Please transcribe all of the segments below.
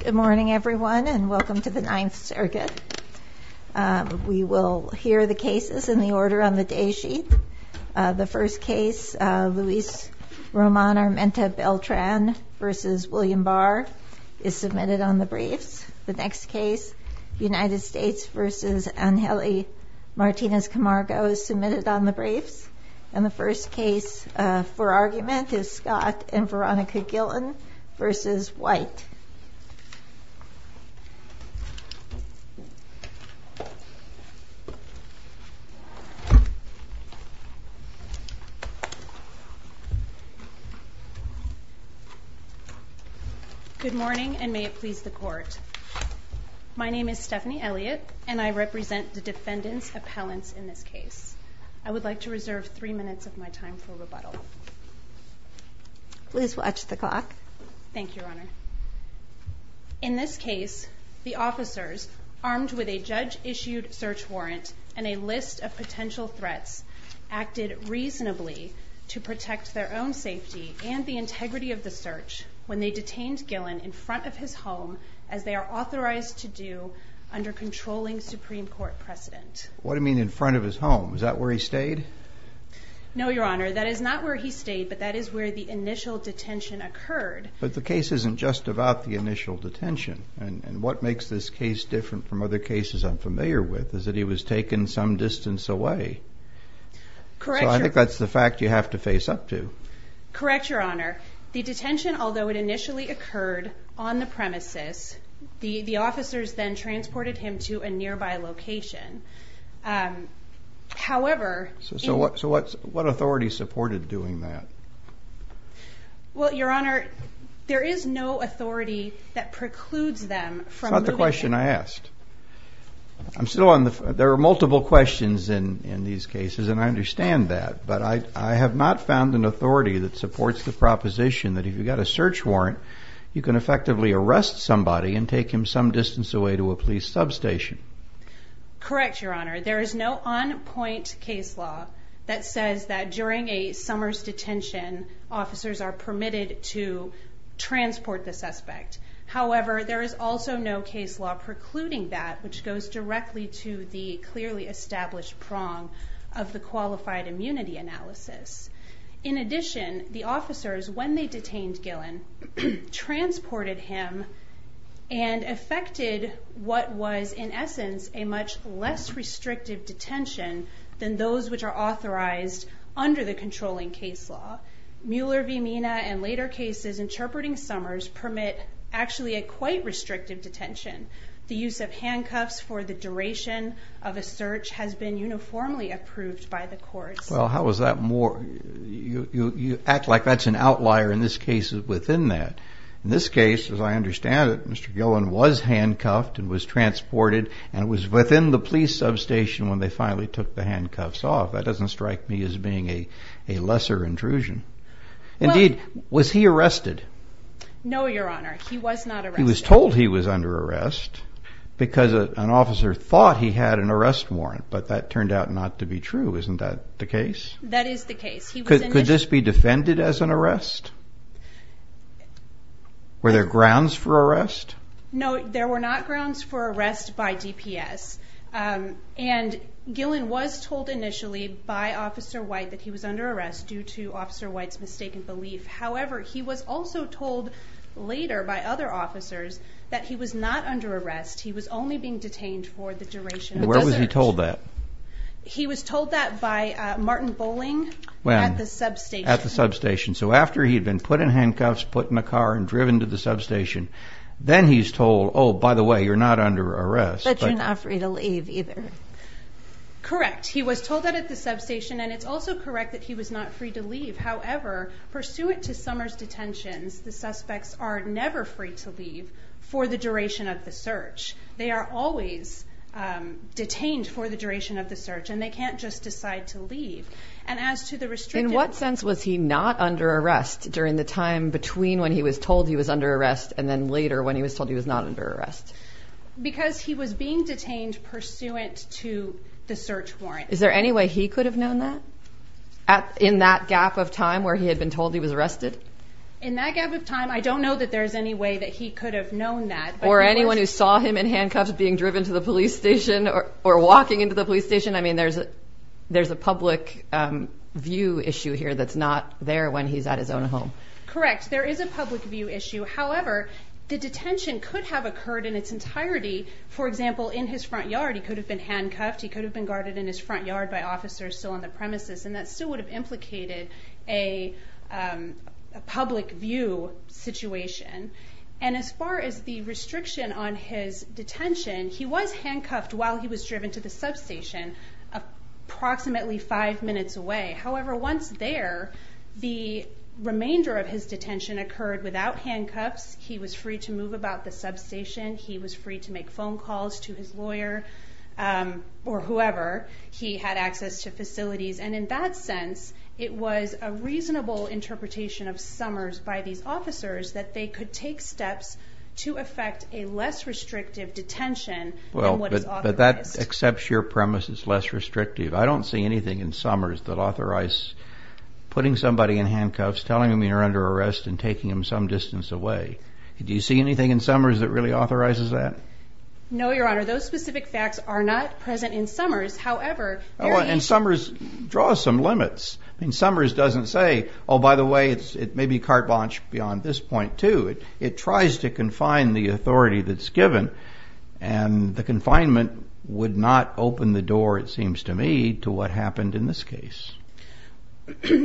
Good morning everyone and welcome to the Ninth Circuit. We will hear the cases in the order on the day sheet. The first case, Luis Roman Armenta Beltran v. William Barr is submitted on the briefs. The next case, United States v. Angeli Martinez Camargo is submitted on the briefs. And the first case for argument is Scott and Veronica Gillen v. White. Good morning and may it please the court. My name is Stephanie Elliott and I represent the defendant's appellants in this case. I would like to reserve three minutes of my time for rebuttal. Please watch the clock. Thank you, Your Honor. In this case, the officers, armed with a judge-issued search warrant and a list of potential threats, acted reasonably to protect their own safety and the integrity of the search when they detained Gillen in front of his home as they are authorized to do under controlling Supreme Court precedent. What do you mean in front of his home? Is that where he stayed? No, Your Honor. That is not where he stayed, but that is where the initial detention occurred. But the case isn't just about the initial detention. And what makes this case different from other cases I'm familiar with is that he was taken some distance away. Correct, Your Honor. So I think that's the fact you have to face up to. Correct, Your Honor. The detention, although it initially occurred on the premises, the officers then transported him to a nearby location. However... So what authority supported doing that? Well, Your Honor, there is no authority that precludes them from moving him. That's not the question I asked. There are multiple questions in these cases and I understand that, but I have not found an authority that supports the proposition that if you've got a search warrant, you can effectively arrest somebody and take him some distance away to a police substation. Correct, Your Honor. There is no on-point case law that says that during a summer's detention, officers are permitted to transport the suspect. However, there is also no case law precluding that, which goes directly to the clearly established prong of the qualified immunity analysis. In addition, the officers, when they detained Gillen, transported him and effected what was in essence a much less restrictive detention than those which are authorized under the controlling case law. Mueller v. Mina and later cases interpreting summers permit actually a quite restrictive detention. The use of handcuffs for the duration of a search has been uniformly approved by the courts. Well, how is that more... you act like that's an outlier in this case within that. In this case, as I understand it, Mr. Gillen was handcuffed and was transported and was within the police substation when they finally took the handcuffs off. That doesn't strike me as being a lesser intrusion. Indeed, was he arrested? No, Your Honor, he was not arrested. Because an officer thought he had an arrest warrant, but that turned out not to be true. Isn't that the case? That is the case. Could this be defended as an arrest? Were there grounds for arrest? No, there were not grounds for arrest by DPS. And Gillen was told initially by Officer White that he was under arrest due to Officer White's mistaken belief. However, he was also told later by other officers that he was not under arrest. He was only being detained for the duration of the search. Where was he told that? He was told that by Martin Bowling at the substation. At the substation. So after he had been put in handcuffs, put in a car, and driven to the substation, then he's told, oh, by the way, you're not under arrest. But you're not free to leave either. Correct. He was told that at the substation. And it's also correct that he was not free to leave. However, pursuant to Summers' detentions, the suspects are never free to leave for the duration of the search. They are always detained for the duration of the search, and they can't just decide to leave. And as to the restrictive warrant. In what sense was he not under arrest during the time between when he was told he was under arrest and then later when he was told he was not under arrest? Because he was being detained pursuant to the search warrant. Is there any way he could have known that? In that gap of time where he had been told he was arrested? In that gap of time, I don't know that there's any way that he could have known that. Or anyone who saw him in handcuffs being driven to the police station or walking into the police station. I mean, there's a public view issue here that's not there when he's at his own home. Correct. There is a public view issue. However, the detention could have occurred in its entirety. For example, in his front yard, he could have been handcuffed. He could have been guarded in his front yard by officers still on the premises. And that still would have implicated a public view situation. And as far as the restriction on his detention, he was handcuffed while he was driven to the substation approximately five minutes away. However, once there, the remainder of his detention occurred without handcuffs. He was free to move about the substation. He was free to make phone calls to his lawyer or whoever. He had access to facilities. And in that sense, it was a reasonable interpretation of Summers by these officers that they could take steps to effect a less restrictive detention than what is authorized. But that accepts your premise, it's less restrictive. I don't see anything in Summers that authorize putting somebody in handcuffs, telling them you're under arrest, and taking them some distance away. Do you see anything in Summers that really authorizes that? No, Your Honor. Those specific facts are not present in Summers. However, there is... And Summers draws some limits. Summers doesn't say, oh, by the way, it may be carte blanche beyond this point, too. It tries to confine the authority that's given, and the confinement would not open the door, it seems to me, to what happened in this case.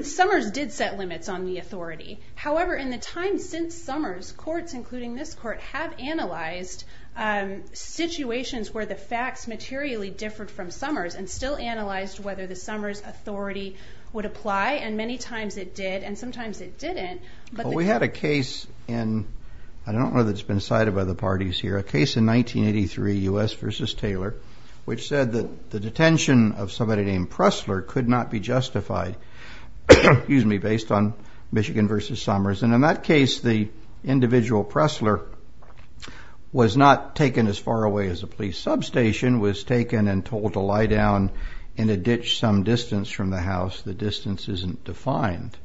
Summers did set limits on the authority. However, in the time since Summers, courts, including this court, have analyzed situations where the facts materially differed from Summers and still analyzed whether the Summers authority would apply. And many times it did, and sometimes it didn't. We had a case in, I don't know if it's been cited by the parties here, a case in 1983, U.S. v. Taylor, which said that the detention of somebody named Pressler could not be justified, excuse me, based on Michigan v. Summers. And in that case, the individual Pressler was not taken as far away as a police substation, was taken and told to lie down in a ditch some distance from the house. The distance isn't defined.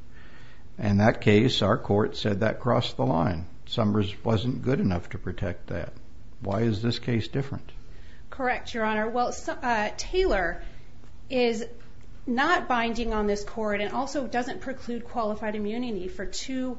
In that case, our court said that crossed the line. Summers wasn't good enough to protect that. Why is this case different? Correct, Your Honor. Well, Taylor is not binding on this court and also doesn't preclude qualified immunity for two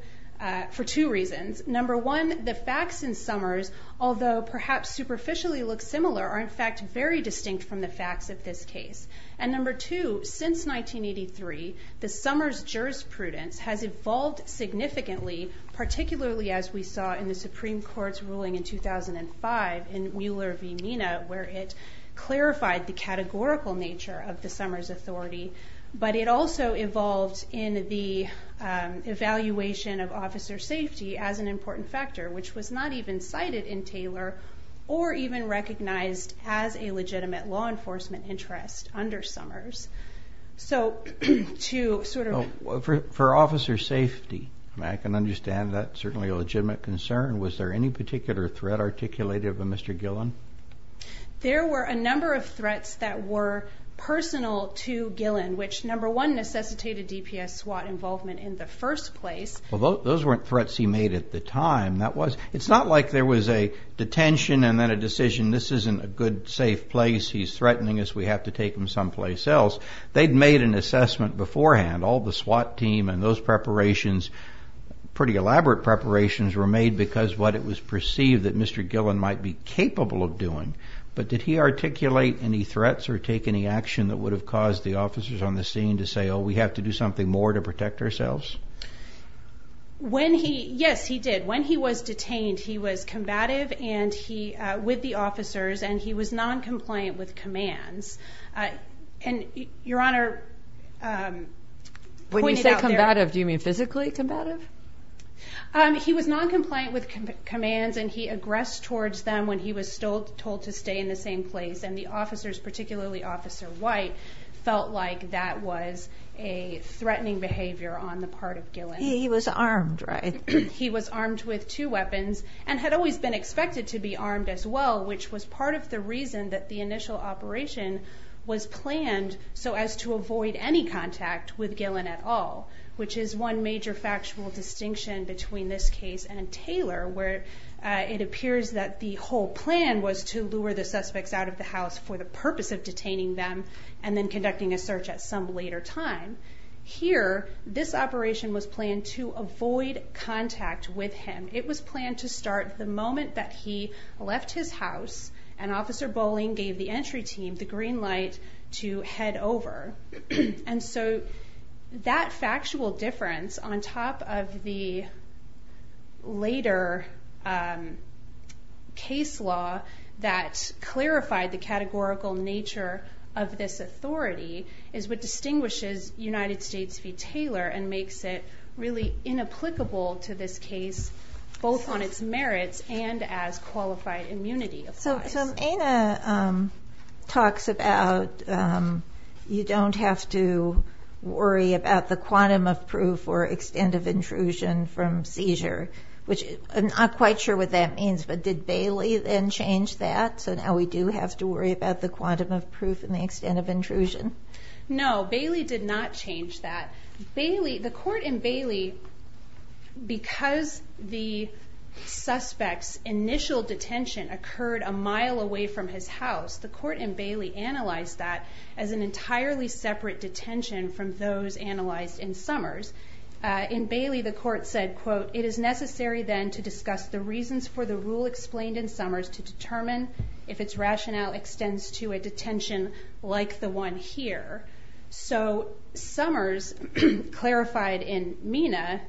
reasons. Number one, the facts in Summers, although perhaps superficially look similar, are in fact very distinct from the facts of this case. And number two, since 1983, the Summers jurisprudence has evolved significantly, particularly as we saw in the Supreme Court's ruling in 2005 in Wheeler v. Mina, where it clarified the categorical nature of the Summers authority, but it also evolved in the evaluation of officer safety as an important factor, which was not even cited in Taylor or even recognized as a legitimate law enforcement interest under Summers. So to sort of... For officer safety, I can understand that certainly a legitimate concern. Was there any particular threat articulated by Mr. Gillen? There were a number of threats that were personal to Gillen, which, number one, necessitated DPS SWAT involvement in the first place. Well, those weren't threats he made at the time. It's not like there was a detention and then a decision, this isn't a good, safe place, he's threatening us, we have to take him someplace else. They'd made an assessment beforehand, all the SWAT team and those preparations, pretty elaborate preparations, were made because of what it was perceived that Mr. Gillen might be capable of doing. But did he articulate any threats or take any action that would have caused the officers on the scene to say, oh, we have to do something more to protect ourselves? When he, yes, he did. When he was detained, he was combative and he, with the officers, and he was noncompliant with commands. And Your Honor pointed out there... Physically combative? He was noncompliant with commands and he aggressed towards them when he was told to stay in the same place and the officers, particularly Officer White, felt like that was a threatening behavior on the part of Gillen. He was armed, right? He was armed with two weapons and had always been expected to be armed as well, which was part of the reason that the initial operation was planned so as to avoid any contact with Gillen at all, which is one major factual distinction between this case and Taylor, where it appears that the whole plan was to lure the suspects out of the house for the purpose of detaining them and then conducting a search at some later time. Here, this operation was planned to avoid contact with him. It was planned to start the moment that he left his house and Officer Boling gave the entry team the green light to head over. And so that factual difference on top of the later case law that clarified the categorical nature of this authority is what distinguishes United States v. Taylor and makes it really inapplicable to this case, both on its merits and as qualified immunity applies. So Anna talks about you don't have to worry about the quantum of proof or extent of intrusion from seizure, which I'm not quite sure what that means, but did Bailey then change that? So now we do have to worry about the quantum of proof and the extent of intrusion? No, Bailey did not change that. The court in Bailey, because the suspect's initial detention occurred a mile away from his house, the court in Bailey analyzed that as an entirely separate detention from those analyzed in Summers. In Bailey, the court said, quote, it is necessary then to discuss the reasons for the rule explained in Summers to determine if its rationale extends to a detention like the one here. So Summers clarified in Mina,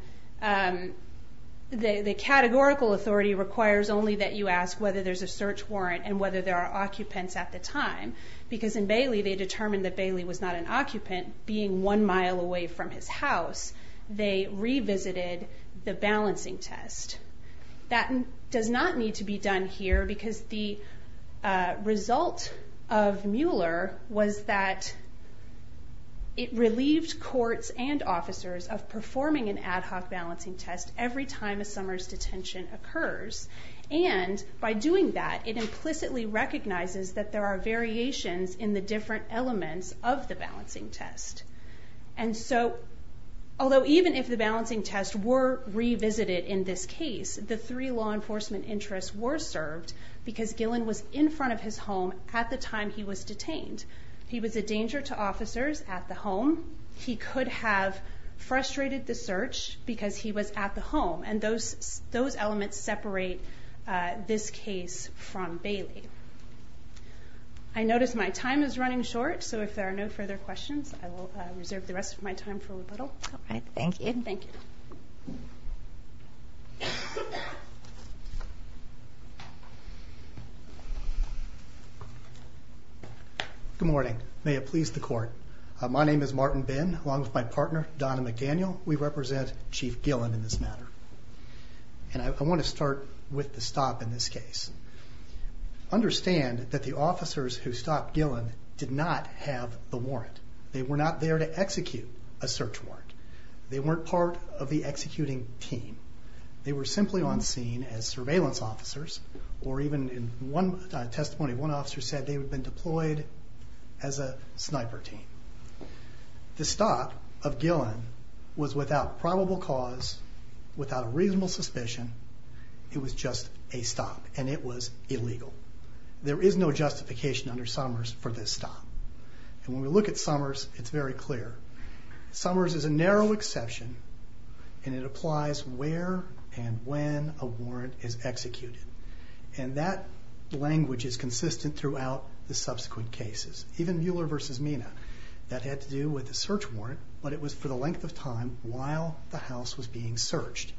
the categorical authority requires only that you ask whether there's a search warrant and whether there are occupants at the time. Because in Bailey, they determined that Bailey was not an occupant being one mile away from his house. They revisited the balancing test. That does not need to be done here because the result of Mueller was that it relieved courts and officers of performing an ad hoc balancing test every time a Summers detention occurs. And by doing that, it implicitly recognizes that there are variations in the different elements of the balancing test. And so, although even if the balancing test were revisited in this case, the three law enforcement interests were served because Gillen was in front of his home at the time he was detained. He was a danger to officers at the home. He could have frustrated the search because he was at the home. And those elements separate this case from Bailey. I notice my time is running short. So if there are no further questions, I will reserve the rest of my time for rebuttal. All right. Thank you. Thank you. Good morning. May it please the court. My name is Martin Bin, along with my partner Donna McDaniel. We represent Chief Gillen in this matter. And I want to start with the stop in this case. They were not there to execute a search warrant. They weren't part of the executing team. They were simply on scene as surveillance officers, or even in testimony, one officer said they had been deployed as a sniper team. The stop of Gillen was without probable cause, without reasonable suspicion. It was just a stop, and it was illegal. There is no justification under Summers for this stop. And when we look at Summers, it's very clear. Summers is a narrow exception, and it applies where and when a warrant is executed. And that language is consistent throughout the subsequent cases. Even Mueller v. Mina, that had to do with the search warrant, but it was for the length of time while the house was being searched.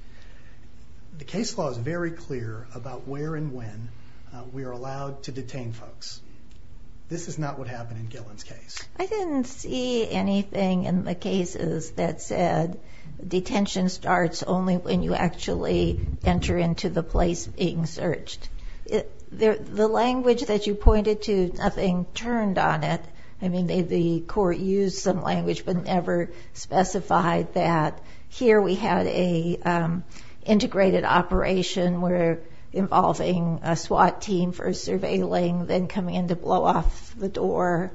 The case law is very clear about where and when we are allowed to detain folks. This is not what happened in Gillen's case. I didn't see anything in the cases that said detention starts only when you actually enter into the place being searched. The language that you pointed to, nothing turned on it. I mean, the court used some language but never specified that. Here we had an integrated operation where involving a SWAT team for surveilling, then coming in to blow off the door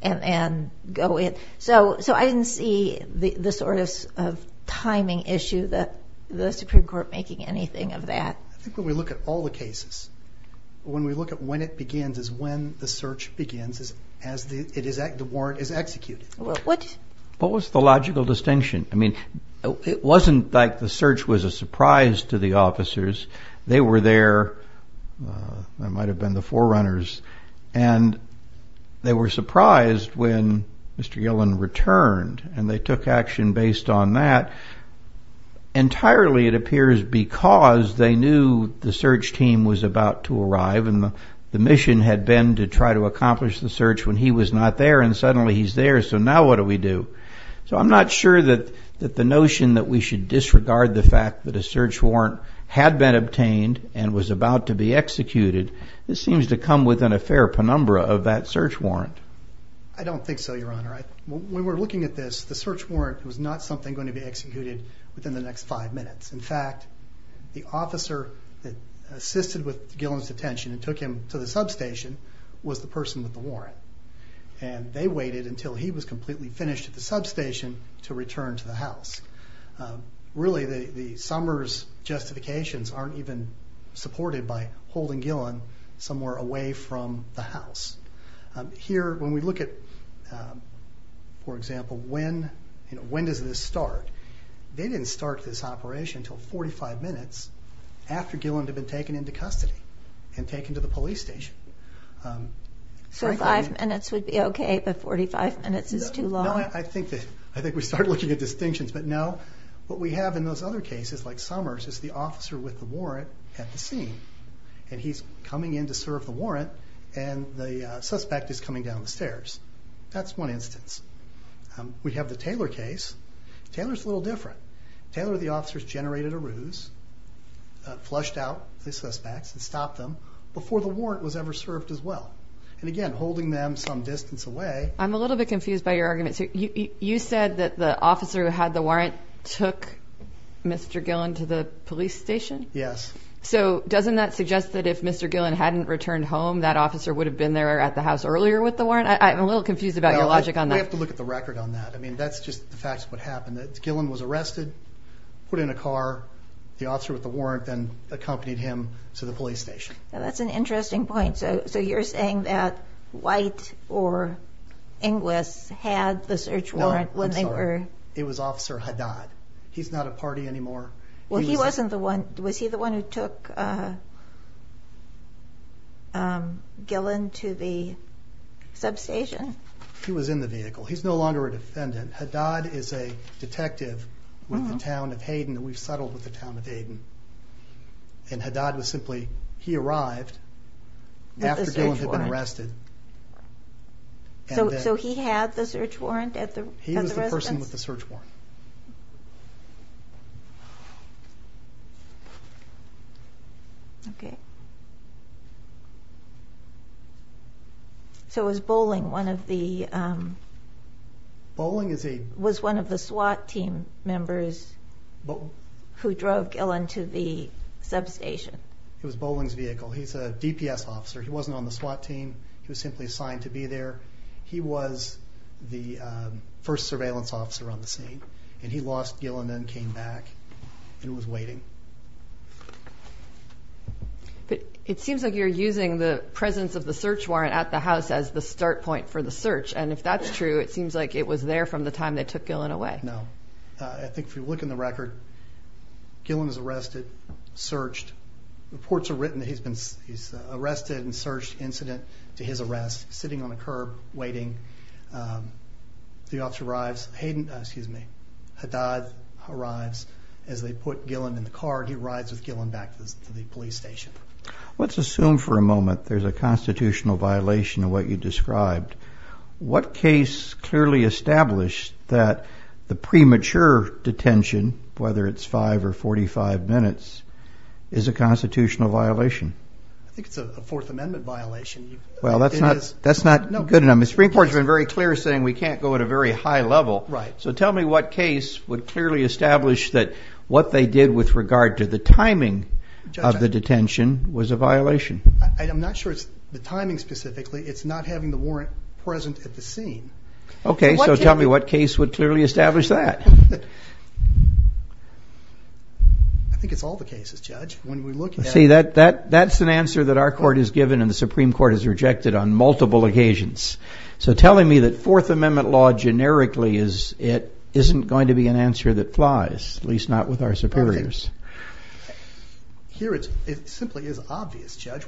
and go in. So I didn't see the sort of timing issue that the Supreme Court making anything of that. I think when we look at all the cases, when we look at when it begins is when the search begins as the warrant is executed. What was the logical distinction? I mean, it wasn't like the search was a surprise to the officers. They were there, they might have been the forerunners, and they were surprised when Mr. Gillen returned, and they took action based on that. Entirely, it appears, because they knew the search team was about to arrive and the mission had been to try to accomplish the search when he was not there, and suddenly he's there, so now what do we do? So I'm not sure that the notion that we should disregard the fact that a search warrant had been obtained and was about to be executed. This seems to come within a fair penumbra of that search warrant. I don't think so, Your Honor. When we're looking at this, the search warrant was not something going to be executed within the next five minutes. In fact, the officer that assisted with Gillen's detention and took him to the substation was the person with the warrant, and they waited until he was completely finished at the substation to return to the house. Really, the Summers justifications aren't even supported by holding Gillen somewhere away from the house. Here, when we look at, for example, when does this start, they didn't start this operation until 45 minutes after Gillen had been taken into custody and taken to the police station. So five minutes would be okay, but 45 minutes is too long? I think we started looking at distinctions, but no. What we have in those other cases, like Summers, is the officer with the warrant at the scene, and he's coming in to serve the warrant, and the suspect is coming down the stairs. That's one instance. We have the Taylor case. Taylor's a little different. Taylor, the officer, has generated a ruse, flushed out the suspects and stopped them before the warrant was ever served as well. And again, holding them some distance away. I'm a little bit confused by your argument. You said that the officer who had the warrant took Mr. Gillen to the police station? Yes. So doesn't that suggest that if Mr. Gillen hadn't returned home, that officer would have been there at the house earlier with the warrant? I'm a little confused about your logic on that. We have to look at the record on that. I mean, that's just the facts of what happened. Gillen was arrested, put in a car, the officer with the warrant then accompanied him to the police station. That's an interesting point. So you're saying that White or Inglis had the search warrant when they were... No, I'm sorry. It was Officer Haddad. He's not a party anymore. Well, he wasn't the one... Was he the one who took Gillen to the substation? He was in the vehicle. He's no longer a defendant. Haddad is a detective with the town of Hayden. We've settled with the town of Hayden. And Haddad was simply... With the search warrant. After Gillen had been arrested. So he had the search warrant at the residence? He was the person with the search warrant. Okay. So it was Boling, one of the... Boling is a... Was one of the SWAT team members who drove Gillen to the substation. It was Boling's vehicle. He's a DPS officer. He wasn't on the SWAT team. He was simply assigned to be there. He was the first surveillance officer on the scene. And he lost Gillen and came back and was waiting. But it seems like you're using the presence of the search warrant at the house as the start point for the search. And if that's true, it seems like it was there No. I think if you look in the record, Gillen is arrested, searched. Reports are written that he's been arrested and searched, incident to his arrest, sitting on a curb, waiting. The officer arrives, Hayden, excuse me, Haddad arrives as they put Gillen in the car. He arrives with Gillen back to the police station. Let's assume for a moment there's a constitutional violation of what you described. What case clearly established that the premature detention, whether it's five or 45 minutes, is a constitutional violation? I think it's a Fourth Amendment violation. Well, that's not good enough. The Supreme Court has been very clear saying we can't go at a very high level. So tell me what case would clearly establish that what they did with regard to the timing of the detention was a violation. I'm not sure it's the timing specifically. It's not having the warrant present at the scene. Okay, so tell me what case would clearly establish that. I think it's all the cases, Judge. See, that's an answer that our court has given and the Supreme Court has rejected on multiple occasions. So telling me that Fourth Amendment law generically isn't going to be an answer that flies, at least not with our superiors. Here it simply is obvious, Judge.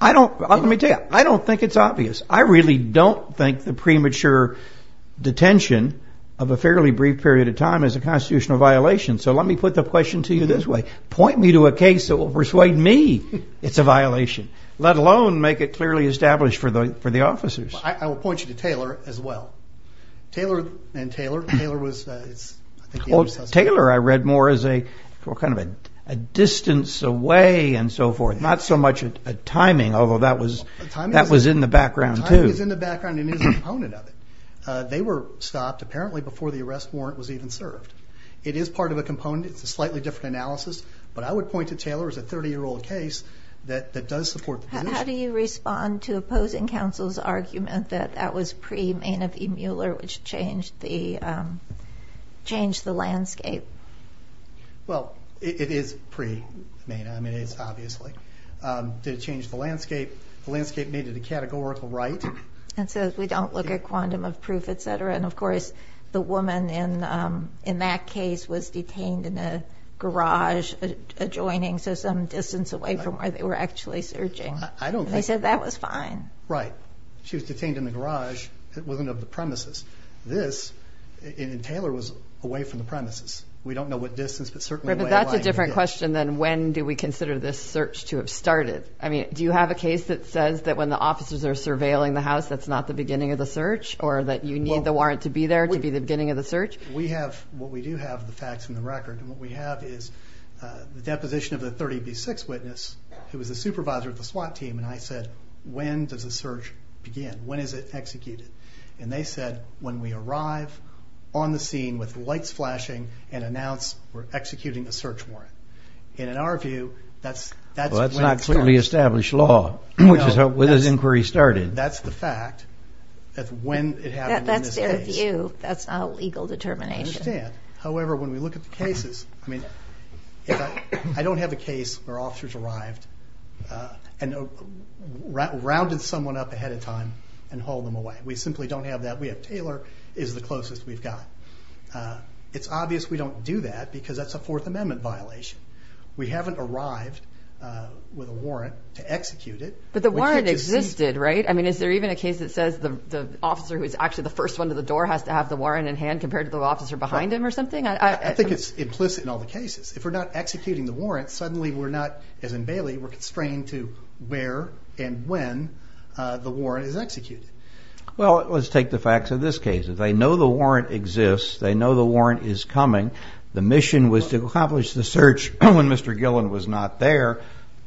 I don't think it's obvious. I really don't think the premature detention of a fairly brief period of time is a constitutional violation. So let me put the question to you this way. Point me to a case that will persuade me it's a violation, let alone make it clearly established for the officers. I will point you to Taylor as well. Taylor and Taylor. Taylor, I read more as a distance away and so forth, not so much a timing, although that was in the background too. The timing is in the background and is a component of it. They were stopped, apparently, before the arrest warrant was even served. It is part of a component. It's a slightly different analysis. But I would point to Taylor as a 30-year-old case that does support the position. How do you respond to opposing counsel's argument that that was pre-Maynard v. Mueller, which changed the landscape? Well, it is pre-Maynard. I mean, it is obviously. Did it change the landscape? The landscape needed a categorical right. It says we don't look at quantum of proof, et cetera. And, of course, the woman in that case was detained in a garage adjoining, so some distance away from where they were actually searching. They said that was fine. Right. She was detained in the garage. It wasn't of the premises. This, and Taylor was away from the premises. We don't know what distance, but certainly the way in line. But that's a different question than when do we consider this search to have started. I mean, do you have a case that says that when the officers are surveilling the house, that's not the beginning of the search, or that you need the warrant to be there to be the beginning of the search? We have what we do have, the facts and the record. And what we have is the deposition of the 30B6 witness who was the supervisor of the SWAT team, and I said, when does the search begin? When is it executed? And they said, when we arrive on the scene we're executing a search warrant. And in our view, that's when it starts. Well, that's not clearly established law, which is where this inquiry started. That's the fact, that's when it happened in this case. That's their view, that's not a legal determination. I understand. However, when we look at the cases, I mean, I don't have a case where officers arrived and rounded someone up ahead of time and hauled them away. We simply don't have that. We have Taylor is the closest we've got. It's obvious we don't do that because that's a Fourth Amendment violation. We haven't arrived with a warrant to execute it. But the warrant existed, right? I mean, is there even a case that says the officer who is actually the first one to the door has to have the warrant in hand compared to the officer behind him or something? I think it's implicit in all the cases. If we're not executing the warrant, suddenly we're not, as in Bailey, we're constrained to where and when the warrant is executed. Well, let's take the facts of this case. They know the warrant exists. They know the warrant is coming. The mission was to accomplish the search when Mr. Gillen was not there.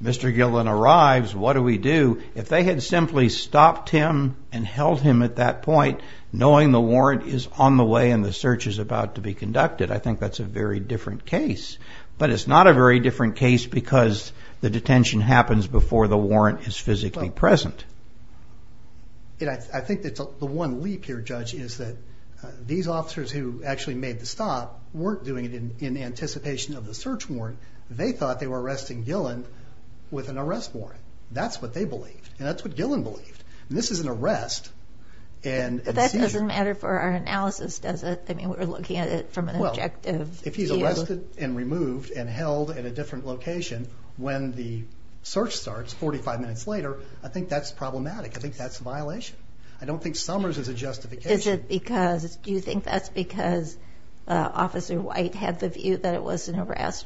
Mr. Gillen arrives, what do we do? If they had simply stopped him and held him at that point, knowing the warrant is on the way and the search is about to be conducted, I think that's a very different case. But it's not a very different case because the detention happens before the warrant is physically present. I think the one leap here, Judge, is that these officers who actually made the stop weren't doing it in anticipation of the search warrant. They thought they were arresting Gillen with an arrest warrant. That's what they believed, and that's what Gillen believed. This is an arrest and a seizure. But that doesn't matter for our analysis, does it? I mean, we're looking at it from an objective view. Well, if he's arrested and removed and held at a different location when the search starts 45 minutes later, I think that's problematic. I think that's a violation. I don't think Summers is a justification. Do you think that's because Officer White had the view that it was an arrest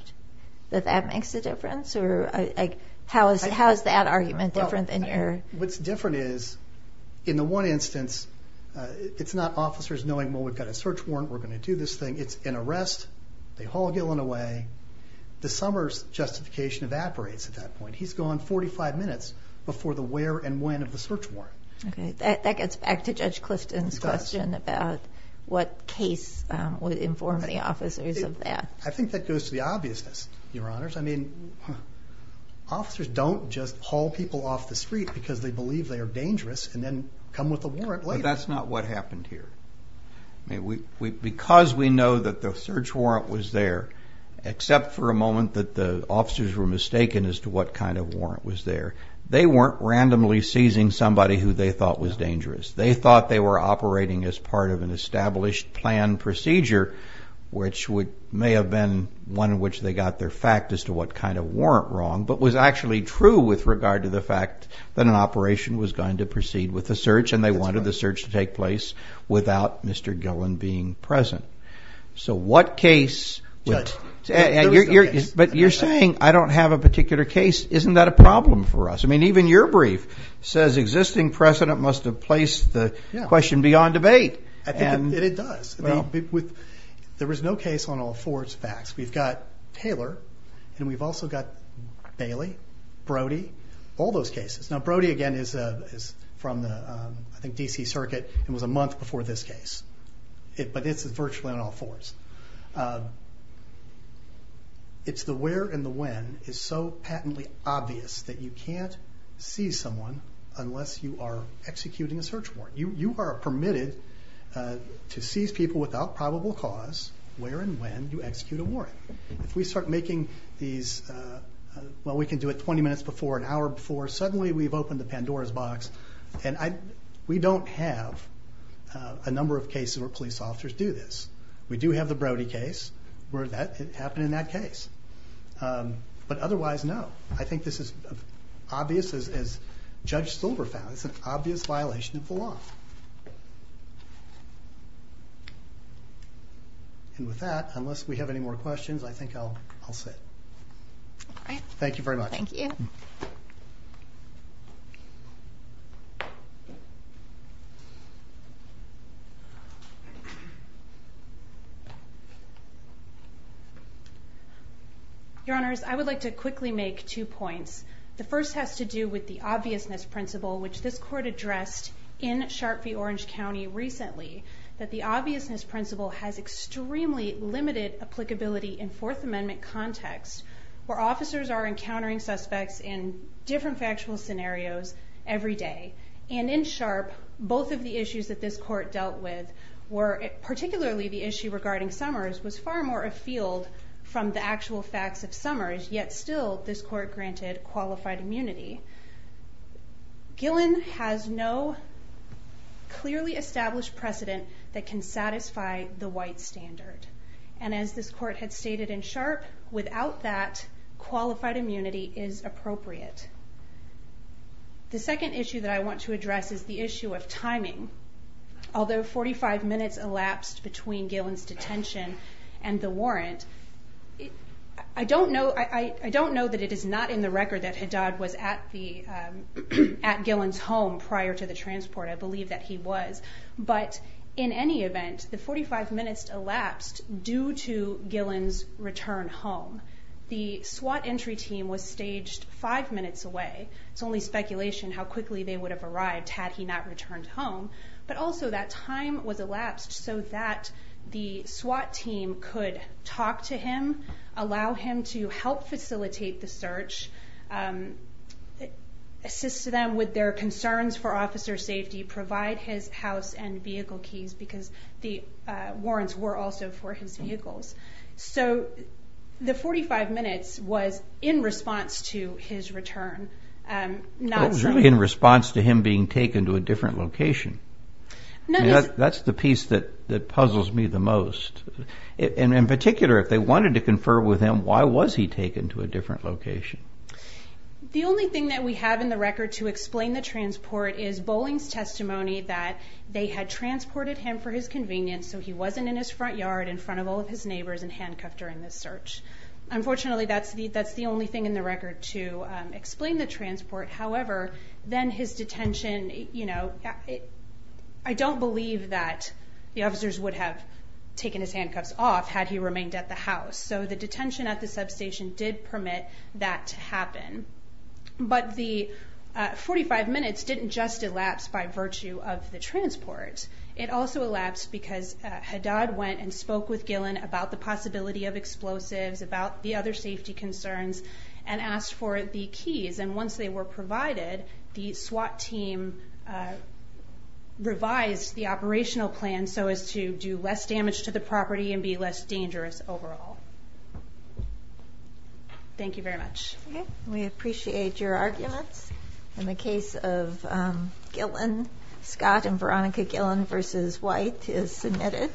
that that makes a difference? How is that argument different than your... What's different is, in the one instance, it's not officers knowing, well, we've got a search warrant, we're going to do this thing. It's an arrest, they haul Gillen away. The Summers justification evaporates at that point. He's gone 45 minutes before the where and when of the search warrant. That gets back to Judge Clifton's question about what case would inform the officers of that. I think that goes to the obviousness, Your Honors. I mean, officers don't just haul people off the street because they believe they are dangerous and then come with a warrant later. But that's not what happened here. Because we know that the search warrant was there, except for a moment that the officers were mistaken as to what kind of warrant was there, they weren't randomly seizing somebody who they thought was dangerous. They thought they were operating as part of an established planned procedure, which may have been one in which they got their fact as to what kind of warrant wrong, but was actually true with regard to the fact that an operation was going to proceed with the search and they wanted the search to take place without Mr. Gillen being present. So what case... But you're saying, I don't have a particular case. Isn't that a problem for us? I mean, even your brief says existing precedent must have placed the question beyond debate. It does. There is no case on all fours facts. We've got Taylor and we've also got Bailey, Brody, all those cases. Now, Brody, again, is from the, I think, D.C. Circuit and was a month before this case. But it's virtually on all fours. It's the where and the when is so patently obvious that you can't seize someone unless you are executing a search warrant. You are permitted to seize people without probable cause where and when you execute a warrant. If we start making these, well, we can do it 20 minutes before, an hour before, suddenly we've opened the Pandora's box and we don't have a number of cases where police officers do this. We do have the Brody case where it happened in that case. But otherwise, no. I think this is obvious, as Judge Silver found, it's an obvious violation of the law. And with that, unless we have any more questions, I think I'll sit. All right. Thank you very much. Thank you. Your Honors, I would like to quickly make two points. The first has to do with the obviousness principle, which this court addressed in Sharp v. Orange County recently, that the obviousness principle has extremely limited applicability in Fourth Amendment context where officers are encountering suspects in different factual scenarios every day. And in Sharp, both of the issues that this court dealt with particularly the issue regarding Summers was far more afield from the actual facts of Summers, yet still this court granted qualified immunity. Gillen has no clearly established precedent that can satisfy the white standard. And as this court had stated in Sharp, without that, qualified immunity is appropriate. The second issue that I want to address is the issue of timing. Although 45 minutes elapsed between Gillen's detention and the warrant, I don't know that it is not in the record that Haddad was at Gillen's home prior to the transport. I believe that he was. But in any event, the 45 minutes elapsed due to Gillen's return home. The SWAT entry team was staged five minutes away. It's only speculation how quickly they would have arrived had he not returned home. But also that time was elapsed so that the SWAT team could talk to him, allow him to help facilitate the search, assist them with their concerns for officer safety, provide his house and vehicle keys because the warrants were also for his vehicles. So the 45 minutes was in response to his return. It was really in response to him being taken to a different location. That's the piece that puzzles me the most. In particular, if they wanted to confer with him, why was he taken to a different location? The only thing that we have in the record to explain the transport is Boling's testimony that they had transported him for his convenience so he wasn't in his front yard in front of all of his neighbors and handcuffed during the search. Unfortunately, that's the only thing in the record to explain the transport. However, then his detention, I don't believe that the officers would have taken his handcuffs off had he remained at the house. So the detention at the substation did permit that to happen. But the 45 minutes didn't just elapse by virtue of the transport. It also elapsed because Haddad went and spoke with Gillen about the possibility of explosives, about the other safety concerns and asked for the keys. And once they were provided, the SWAT team revised the operational plan so as to do less damage to the property and be less dangerous overall. Thank you very much. We appreciate your arguments. In the case of Gillen, Scott and Veronica Gillen v. White is submitted.